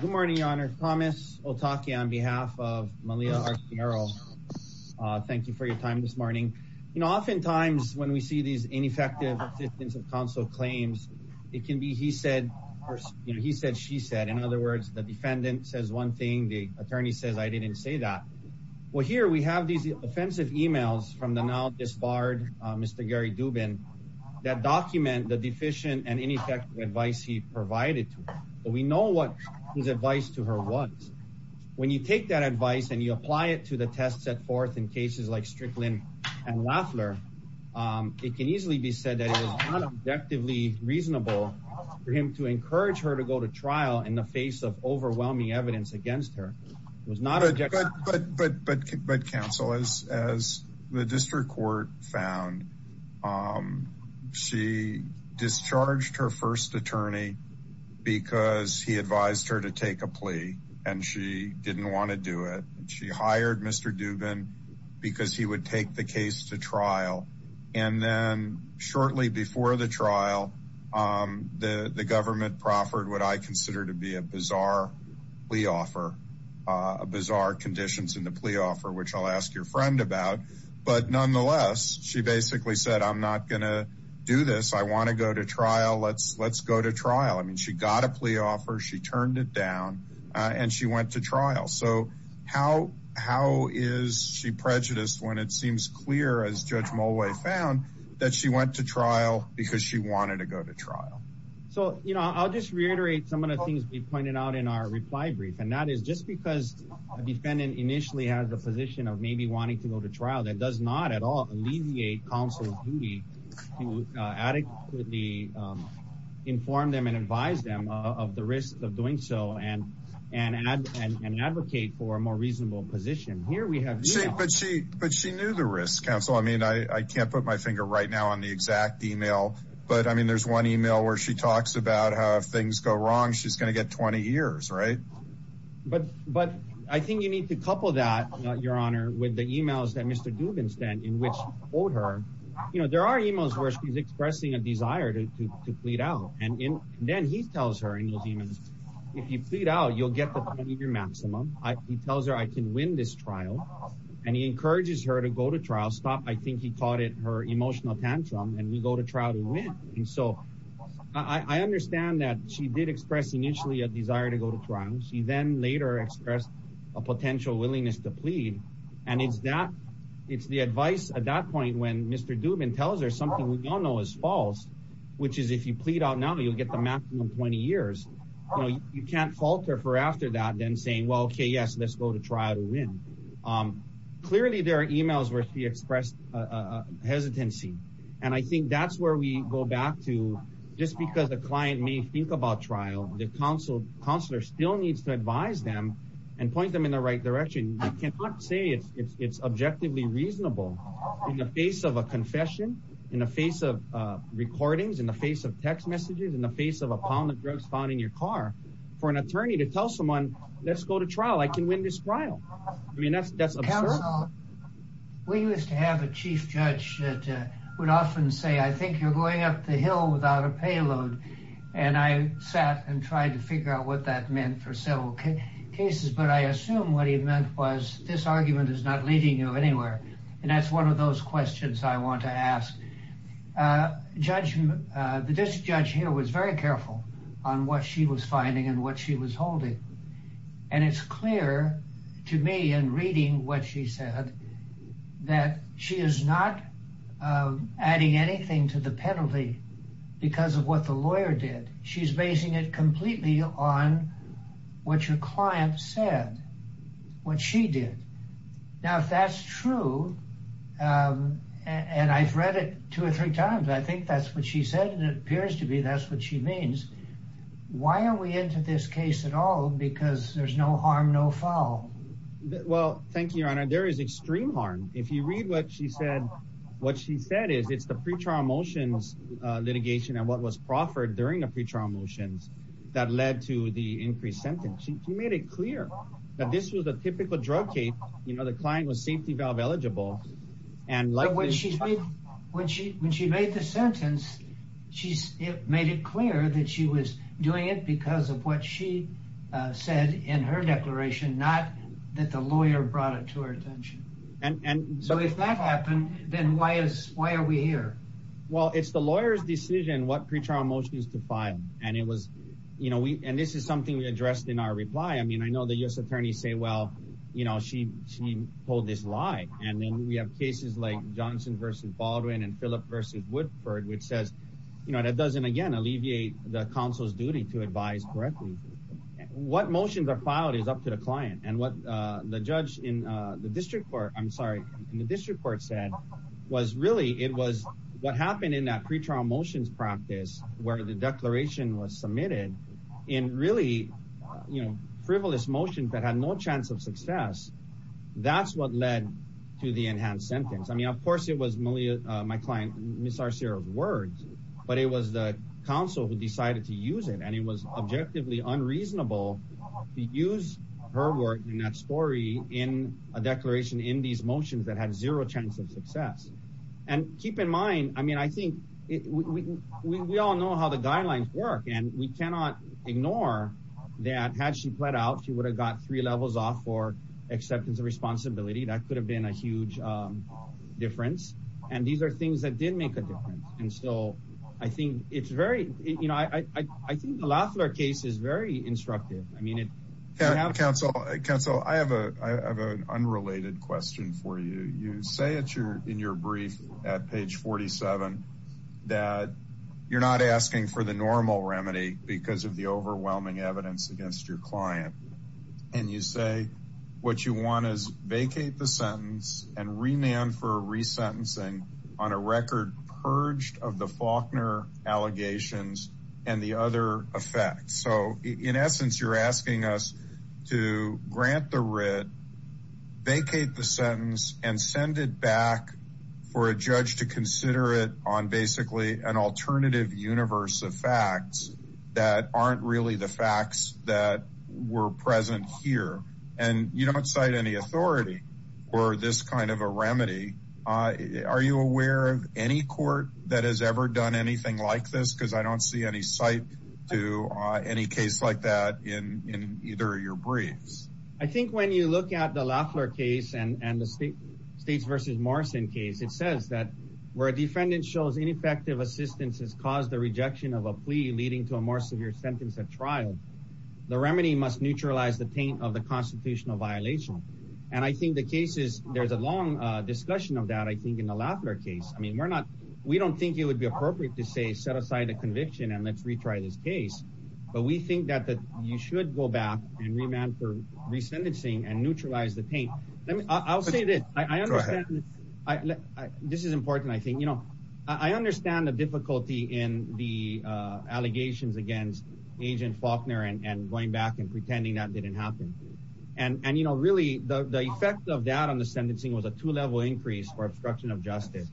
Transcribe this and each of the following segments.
Good morning, your honor. Thomas Otake on behalf of Malia Arciero. Thank you for your time this morning. You know, oftentimes when we see these ineffective assistance of counsel claims, it can be he said, you know, he said, she said. In other words, the defendant says one thing, the attorney says, I didn't say that. Well, here we have these offensive emails from the now disbarred Mr. Gary Dubin that document the deficient and ineffective advice he provided to her. But we know what his advice to her was. When you take that advice, and you apply it to the test set forth in cases like Strickland and Lafler, it can easily be said that it was not objectively reasonable for him to encourage her to go to trial in the face of overwhelming evidence against her was not a good but but but but counsel is as the district court found. Um, she discharged her first attorney, because he advised her to take a plea, and she didn't want to do it. She hired Mr. Dubin, because he would take the case to trial. And then shortly before the trial, the government proffered what I consider to be a bizarre plea offer a bizarre conditions in the plea offer, which I'll ask your friend about. But nonetheless, she basically said, I'm not gonna do this. I want to go to trial. Let's let's go to trial. I mean, she got a plea offer, she turned it down. And she went to trial. So how, how is she prejudiced when it seems clear as Judge Moway found that she went to trial because she wanted to go to trial. So you know, I'll just reiterate some of the things we pointed out in our reply brief. And that is just because a defendant initially has the position of maybe wanting to go to trial that does not at all alleviate counsel's duty to adequately inform them and advise them of the risk of doing so and, and add an advocate for a more reasonable position. Here we have, but she but she knew the risk counsel. I mean, I can't put my finger right now on the exact email. But I mean, there's one email where she talks about how things go wrong, she's going to get 20 years, right. But but I think you need to couple that, Your Honor, with the emails that Mr. Dubin sent in which told her, you know, there are emails where she's expressing a desire to plead out. And then he tells her in those emails, if you plead out, you'll get the 20 year maximum. He tells her I can win this trial. And he encourages her to go to trial stop, I think he called it her emotional tantrum and we go to trial to win. And so I understand that she did express initially a desire to go to trial. She then later expressed a and it's that it's the advice at that point when Mr. Dubin tells her something we don't know is false, which is if you plead out now, you'll get the maximum 20 years. You can't falter for after that then saying, well, okay, yes, let's go to trial to win. Clearly, there are emails where she expressed a hesitancy. And I think that's where we go back to just because the client may think about trial, the counsel counselor still needs to advise them and point them in the right direction. You cannot say it's objectively reasonable in the face of a confession in the face of recordings in the face of text messages in the face of a pound of drugs found in your car for an attorney to tell someone, let's go to trial, I can win this trial. I mean, that's that's we used to have a chief judge that would often say, I think you're going up the hill without a payload. And I sat and tried to figure out what that meant for several cases. But I assume what he meant was this argument is not leading you anywhere. And that's one of those questions I want to ask. Judge, the district judge here was very careful on what she was finding and what she was holding. And it's clear to me and reading what she said, that she is not adding anything to the penalty. Because of what the lawyer did. She's basing it completely on what your client said. What she did. Now, if that's true, and I've read it two or three times, I think that's what she said. And it appears to be that's what she means. Why are we into this case at all? Because there's no harm, no foul. Well, thank you, Your Honor. There is extreme harm. If you read what she said, what she said is it's the pre-trial motions litigation and what was proffered during the pre-trial motions that led to the increased sentence. She made it clear that this was a typical drug case. You know, the client was safety valve eligible. When she made the sentence, she made it clear that she was doing it because of what she said in her declaration, not that the lawyer brought it to her attention. So if that happened, then why are we here? Well, it's the lawyer's decision what pre-trial motions to file. And this is something we addressed in our reply. I mean, I know the U.S. attorneys say, well, you know, she told this lie. And then we have cases like Johnson v. Baldwin and Phillip v. Woodford, which says, you know, that doesn't, again, alleviate the counsel's duty to advise correctly. What motions are filed is up to the client. And what the judge in the district court, I'm sorry, in the district court said was really it was what happened in that pre-trial motions practice where the declaration was submitted in really, you know, frivolous motions that had no chance of success. That's what led to the enhanced sentence. I mean, of course, it was my client, Ms. Arcero's words, but it was the counsel who decided to use it. And it was objectively unreasonable to use her word in that story in a declaration in these motions that had zero chance of success. And keep in mind, I mean, I think we all know how the guidelines work. And we cannot ignore that had she pled out, she would have got three levels off for acceptance of responsibility. That could have been a huge difference. And these are things that did make a difference. And so I think it's very, you know, I think the Loeffler case is very instructive. I mean, it. Counsel, I have an unrelated question for you. You say in your brief at page 47 that you're not asking for the normal remedy because of the overwhelming evidence against your client. And you say what you want is vacate the sentence and remand for resentencing on a record purged of the Faulkner allegations and the other effects. So in essence, you're asking us to grant the writ, vacate the sentence and send it back for a judge to consider it on basically an alternative universe of facts that aren't really the facts that were present here. And you don't cite any authority or this kind of a remedy. Are you aware of any court that has ever anything like this? Because I don't see any site to any case like that in either of your briefs. I think when you look at the Loeffler case and the state versus Morrison case, it says that where a defendant shows ineffective assistance has caused the rejection of a plea leading to a more severe sentence at trial, the remedy must neutralize the taint of the constitutional violation. And I think the case is there's a long discussion of that, I think, in the Loeffler case. I mean, we're not, we don't think it would be appropriate to say, set aside a conviction and let's retry this case. But we think that you should go back and remand for resentencing and neutralize the taint. I'll say this, I understand, this is important, I think, you know, I understand the difficulty in the allegations against agent Faulkner and going back and pretending that didn't happen. And, you know, really the effect of that on the sentencing was a two level increase for obstruction of justice.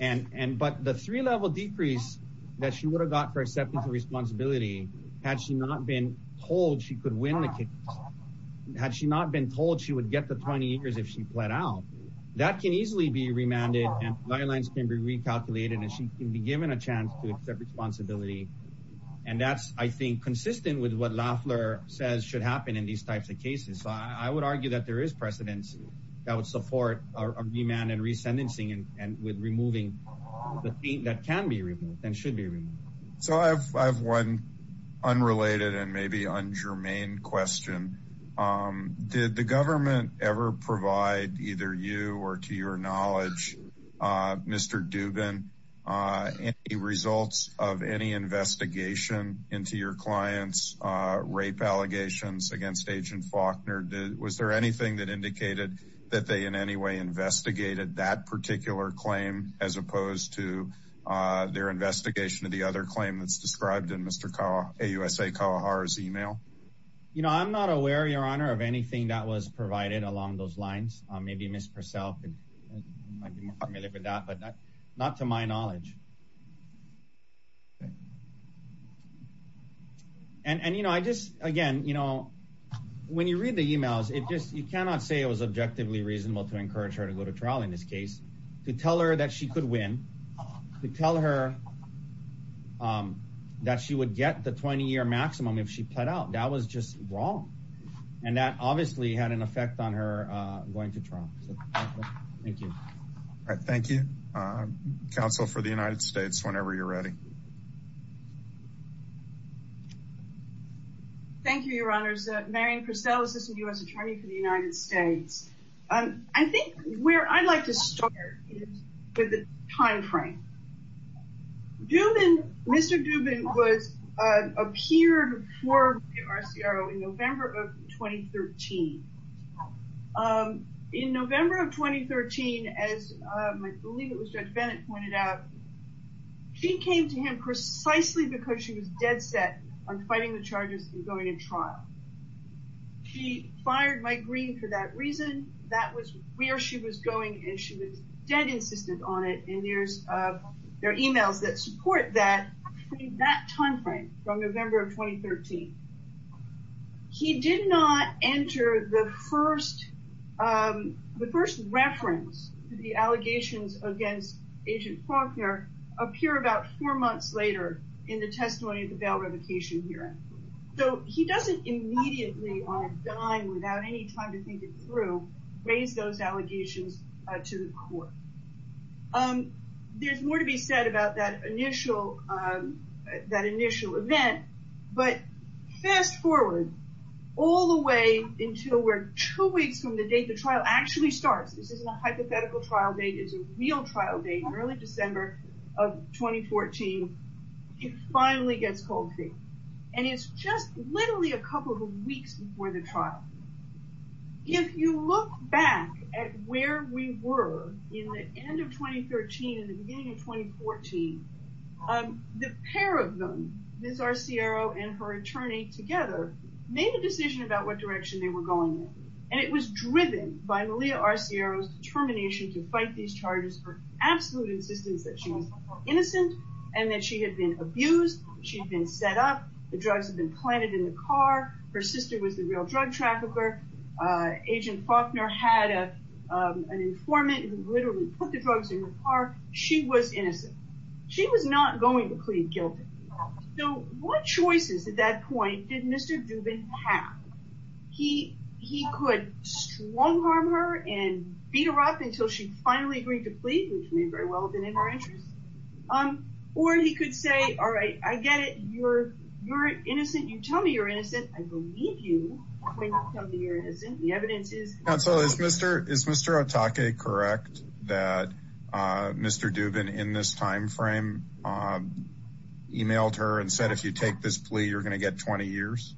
And, but the three level decrease that she would have got for acceptance of responsibility, had she not been told she could win the case, had she not been told she would get the 20 years if she pled out, that can easily be remanded and guidelines can be recalculated and she can be given a chance to accept responsibility. And that's, I think, consistent with what Loeffler says should happen in these types of cases. So I would argue that there is precedence that would support a remand and resentencing and with removing the taint that can be removed and should be removed. So I have one unrelated and maybe ungermane question. Did the government ever provide, either you or to your knowledge, Mr. Dubin, any results of any investigation into your clients' rape allegations against agent Faulkner? Was there anything that indicated that they in any way investigated that particular claim as opposed to their investigation of the other claim that's described in Mr. AUSA Kawahara's email? You know, I'm not aware, your honor, of anything that was provided along those lines. Maybe Ms. Purcell might be more familiar with that, but not to my knowledge. And, you know, I just, again, you know, when you read the emails, it just, you cannot say it was objectively reasonable to encourage her to go to trial in this case, to tell her that she could win, to tell her that she would get the 20-year maximum if she pled out. That was just wrong. And that obviously had an effect on her going to trial. Thank you. All right. Thank you. Counsel for the United States, whenever you're ready. Thank you, your honors. Marian Purcell, Assistant U.S. Attorney for the United States. I think where I'd like to start is with the time frame. Mr. Dubin appeared for the MRCRO in November of 2013. In November of 2013, as I believe it was Judge Bennett pointed out, she came to him precisely because she was dead set on fighting the charges and going to trial. She fired Mike Green for that reason. That was where she was going, and she was dead insistent on it. And there's, there are emails that support that, that time frame from November of 2013. He did not enter the first, the first reference to the allegations against Agent Faulkner appear about four months later in the testimony of the bail revocation hearing. So he doesn't immediately on a dime, without any time to think it through, raise those allegations to the court. There's more to be said about that initial, that initial event, but fast forward all the way until where two weeks from the date the trial actually starts. This isn't a hypothetical trial date. It's a real trial date in early December of 2014. It finally gets cold feet. And it's just literally a couple of weeks before the trial. If you look back at where we were in the end of 2013 and the beginning of 2014, the pair of them, Ms. Arciero and her attorney together, made a decision about what direction they were going in. And it was driven by Malia Arciero's determination to fight these charges for absolute insistence that she was innocent and that she had been abused. She'd been set up. The drugs had been planted in the car. Her sister was the real drug trafficker. Agent Faulkner had an informant who literally put the drugs in her car. She was innocent. She was not going to plead half. He could strong harm her and beat her up until she finally agreed to plead, which may very well have been in her interest. Or he could say, all right, I get it. You're innocent. You tell me you're innocent. I believe you when you tell me you're innocent. The evidence is... Counsel, is Mr. Otake correct that Mr. Dubin in this time frame emailed her and said, if you take this plea, you're going to get 20 years?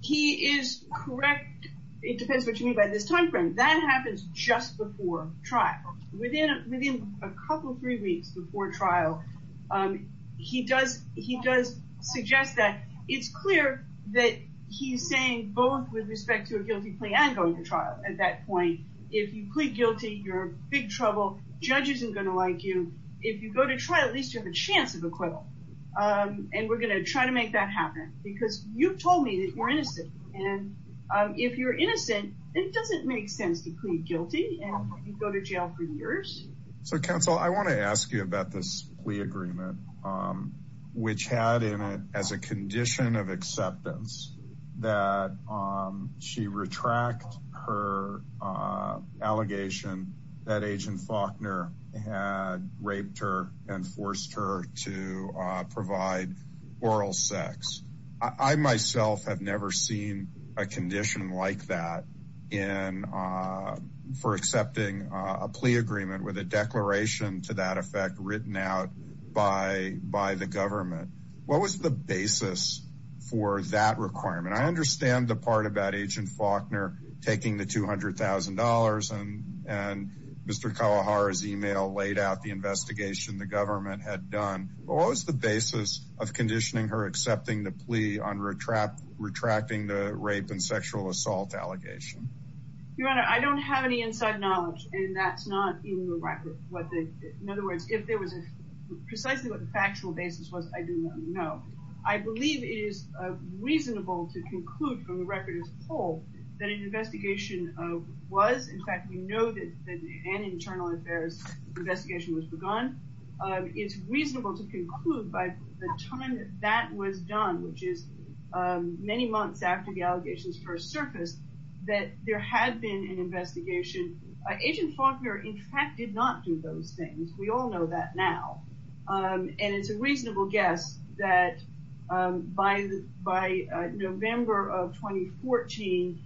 He is correct. It depends what you mean by this time frame. That happens just before trial. Within a couple, three weeks before trial, he does suggest that. It's clear that he's saying both with respect to a guilty plea and going to trial at that point. If you plead guilty, you're in big trouble. Judge isn't going to like you. If you go to trial, at least you have a chance of acquittal. We're going to try to make that happen because you've told me that you're innocent. If you're innocent, it doesn't make sense to plead guilty and go to jail for years. Counsel, I want to ask you about this plea agreement, which had in it as a condition of acceptance that she retract her allegation that Agent Faulkner had raped her and forced her to provide oral sex. I myself have never seen a condition like that for accepting a plea agreement with a declaration to that effect written out by the government. What was the basis for that requirement? I understand the part about Agent Faulkner taking the $200,000 and Mr. Kawahara's email laid out the investigation the government had done. What was the basis of conditioning her accepting the plea on retracting the rape and sexual assault allegation? Your Honor, I don't have any inside knowledge and that's not in the record. In other words, if there was precisely what the factual basis was, I do not know. I believe it is reasonable to conclude from the record as a whole that an investigation was, in fact, we know that an internal affairs investigation was begun. It's reasonable to conclude by the time that was done, which is many months after the allegations first surfaced, that there had been an investigation. Agent Faulkner, in fact, did not do those things. We all know that now. And it's a reasonable guess that by November of 2014,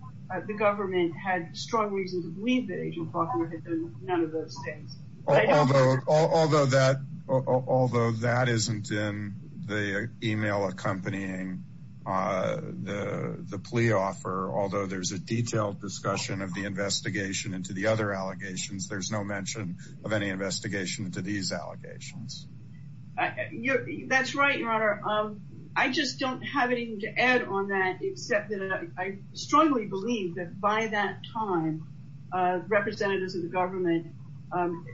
the government had strong reason to believe that Agent Faulkner had done none of those things. Although that isn't in the email accompanying the plea offer, although there's a detailed discussion of the investigation into the allegations, there's no mention of any investigation into these allegations. That's right, Your Honor. I just don't have anything to add on that except that I strongly believe that by that time, representatives of the government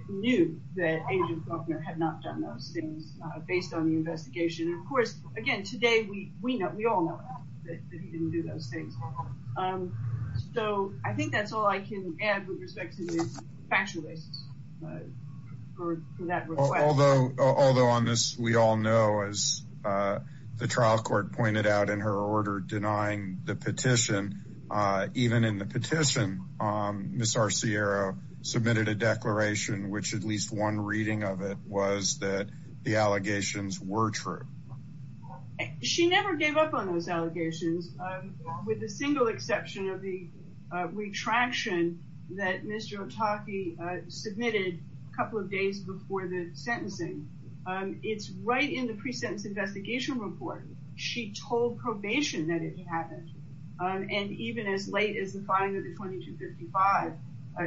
knew that Agent Faulkner had not done those things based on the investigation. Of course, again, today we all know that he didn't do those things. That's all I can add with respect to the factual basis for that request. Although on this, we all know, as the trial court pointed out in her order denying the petition, even in the petition, Ms. Arciero submitted a declaration which at least one reading of it was that the allegations were true. She never gave up on those allegations with the single exception of the retraction that Ms. Jotaki submitted a couple of days before the sentencing. It's right in the pre-sentence investigation report. She told probation that it happened. And even as late as the filing of the 2255,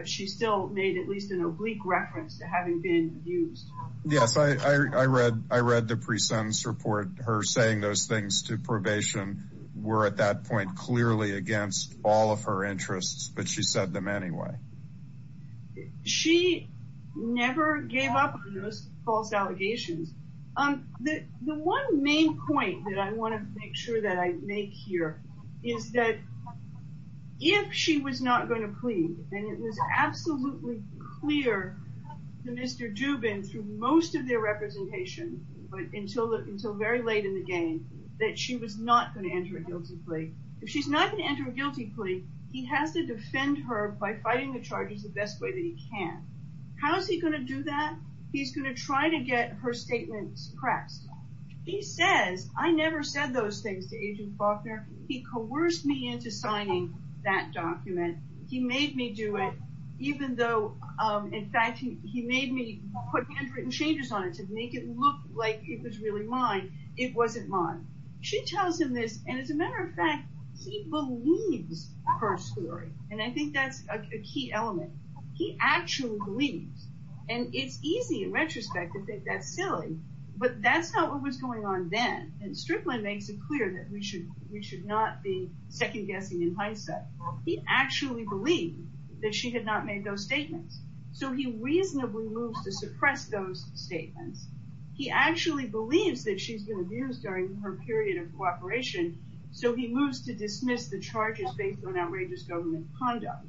she still made at least an oblique reference to having been abused. Yes, I read the pre-sentence report. Her saying those things to clearly against all of her interests, but she said them anyway. She never gave up on those false allegations. The one main point that I want to make sure that I make here is that if she was not going to plead, and it was absolutely clear to Mr. Dubin through most of their representation until very late in the game, that she was not going to enter a guilty plea. If she's not going to enter a guilty plea, he has to defend her by fighting the charges the best way that he can. How is he going to do that? He's going to try to get her statements pressed. He says, I never said those things to Agent Faulkner. He coerced me into signing that document. He made me do it, even though, in fact, he made me put handwritten changes on it to make it look like it was really mine. It wasn't mine. She tells him this. And as a matter of fact, he believes her story. And I think that's a key element. He actually believes. And it's easy in retrospect to think that's silly, but that's not what was going on then. And Strickland makes it clear that he actually believed that she had not made those statements. So he reasonably moves to suppress those statements. He actually believes that she's been abused during her period of cooperation. So he moves to dismiss the charges based on outrageous government conduct.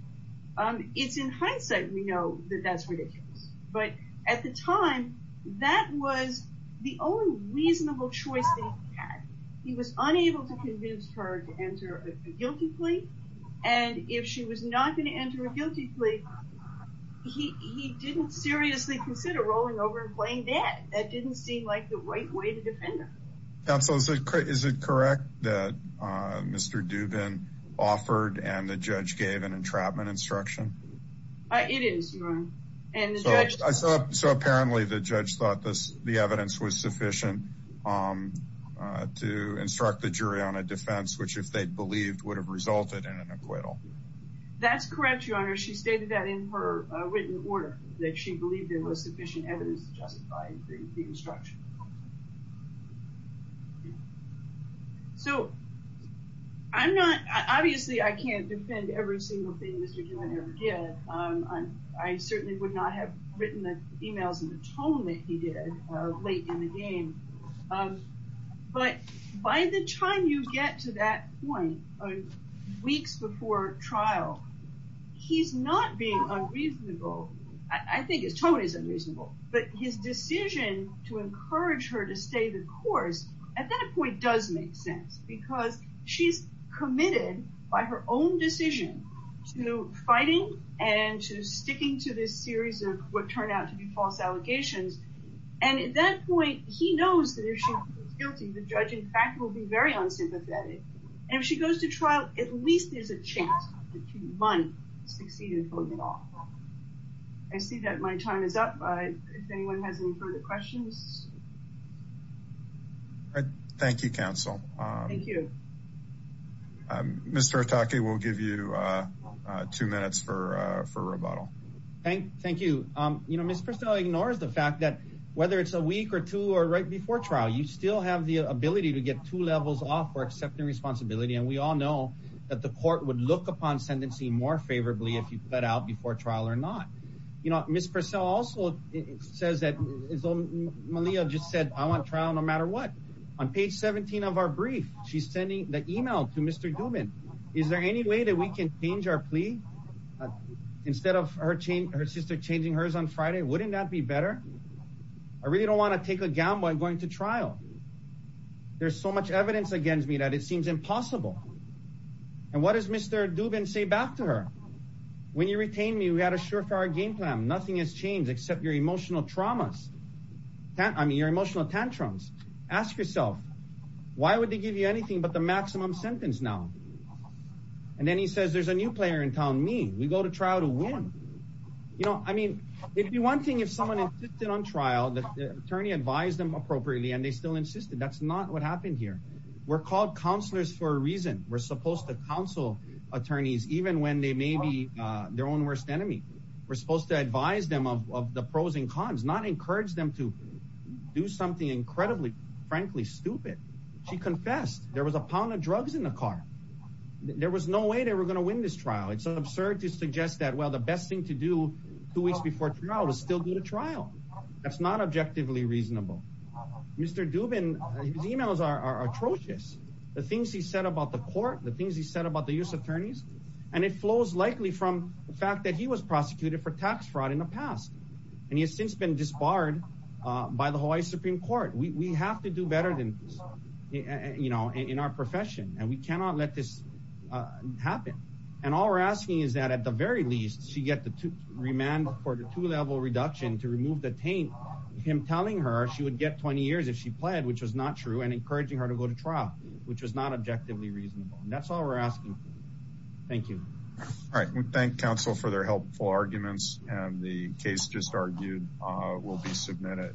It's in hindsight we know that that's ridiculous. But at the time, that was the only reasonable choice he had. He was unable to convince her to enter a guilty plea. And if she was not going to enter a guilty plea, he didn't seriously consider rolling over and playing dead. That didn't seem like the right way to defend her. Counsel, is it correct that Mr. Dubin offered and the judge gave an entrapment instruction? It is, Your Honor. So apparently, the judge thought this the evidence was sufficient to instruct the jury on a defense, which if they'd believed would have resulted in an acquittal. That's correct, Your Honor. She stated that in her written order that she believed there was sufficient evidence to justify the instruction. So I'm not, obviously, I can't defend every single thing Mr. Dubin ever did. I certainly would not have written the emails in the tone that he did late in the game. But by the time you get to that point, weeks before trial, he's not being unreasonable. I think his tone is unreasonable. But his decision to encourage her to stay the course, at that point, does make sense. Because she's committed by her own decision to fighting and to sticking to this series of what turned out to be false allegations. And at that point, he knows that if she's guilty, the judge, in fact, will be very unsympathetic. And if she goes to trial, at least there's a chance that she might succeed in pulling it off. I see that my time is up. If anyone has any further questions. Thank you, counsel. Mr. Otake, we'll give you two minutes for rebuttal. Thank you. You know, Ms. Purcell ignores the fact that whether it's a week or two or right before trial, you still have the ability to get two levels off for accepting responsibility. And we all know that the court would look upon sentencing more favorably if you cut out before trial or not. You know, Ms. Purcell also says that, as Malia just said, I want trial no matter what. On page 17 of our brief, she's sending the email to Mr. Dubin. Is there any way that we can change our plea? Instead of her sister changing hers on Friday, wouldn't that be better? I really don't want to take a gamble in going to trial. There's so much evidence against me it seems impossible. And what does Mr. Dubin say back to her? When you retained me, we had a surefire game plan. Nothing has changed except your emotional traumas. I mean, your emotional tantrums. Ask yourself, why would they give you anything but the maximum sentence now? And then he says there's a new player in town, me. We go to trial to win. You know, I mean, it'd be one thing if someone insisted on trial, the attorney advised them for a reason. We're supposed to counsel attorneys even when they may be their own worst enemy. We're supposed to advise them of the pros and cons, not encourage them to do something incredibly, frankly stupid. She confessed there was a pound of drugs in the car. There was no way they were going to win this trial. It's absurd to suggest that, well, the best thing to do two weeks before trial is still do the trial. That's not objectively reasonable. Mr. Dubin, his emails are atrocious. The things he said about the court, the things he said about the U.S. attorneys, and it flows likely from the fact that he was prosecuted for tax fraud in the past. And he has since been disbarred by the Hawaii Supreme Court. We have to do better than in our profession. And we cannot let this happen. And all we're asking is that at the very least, she get the remand for the two-level reduction to remove the taint, him telling her she would get 20 years if she pled, which was not true, and encouraging her to go to trial, which was not objectively reasonable. That's all we're asking. Thank you. All right. We thank counsel for their helpful arguments. And the case just argued will be submitted.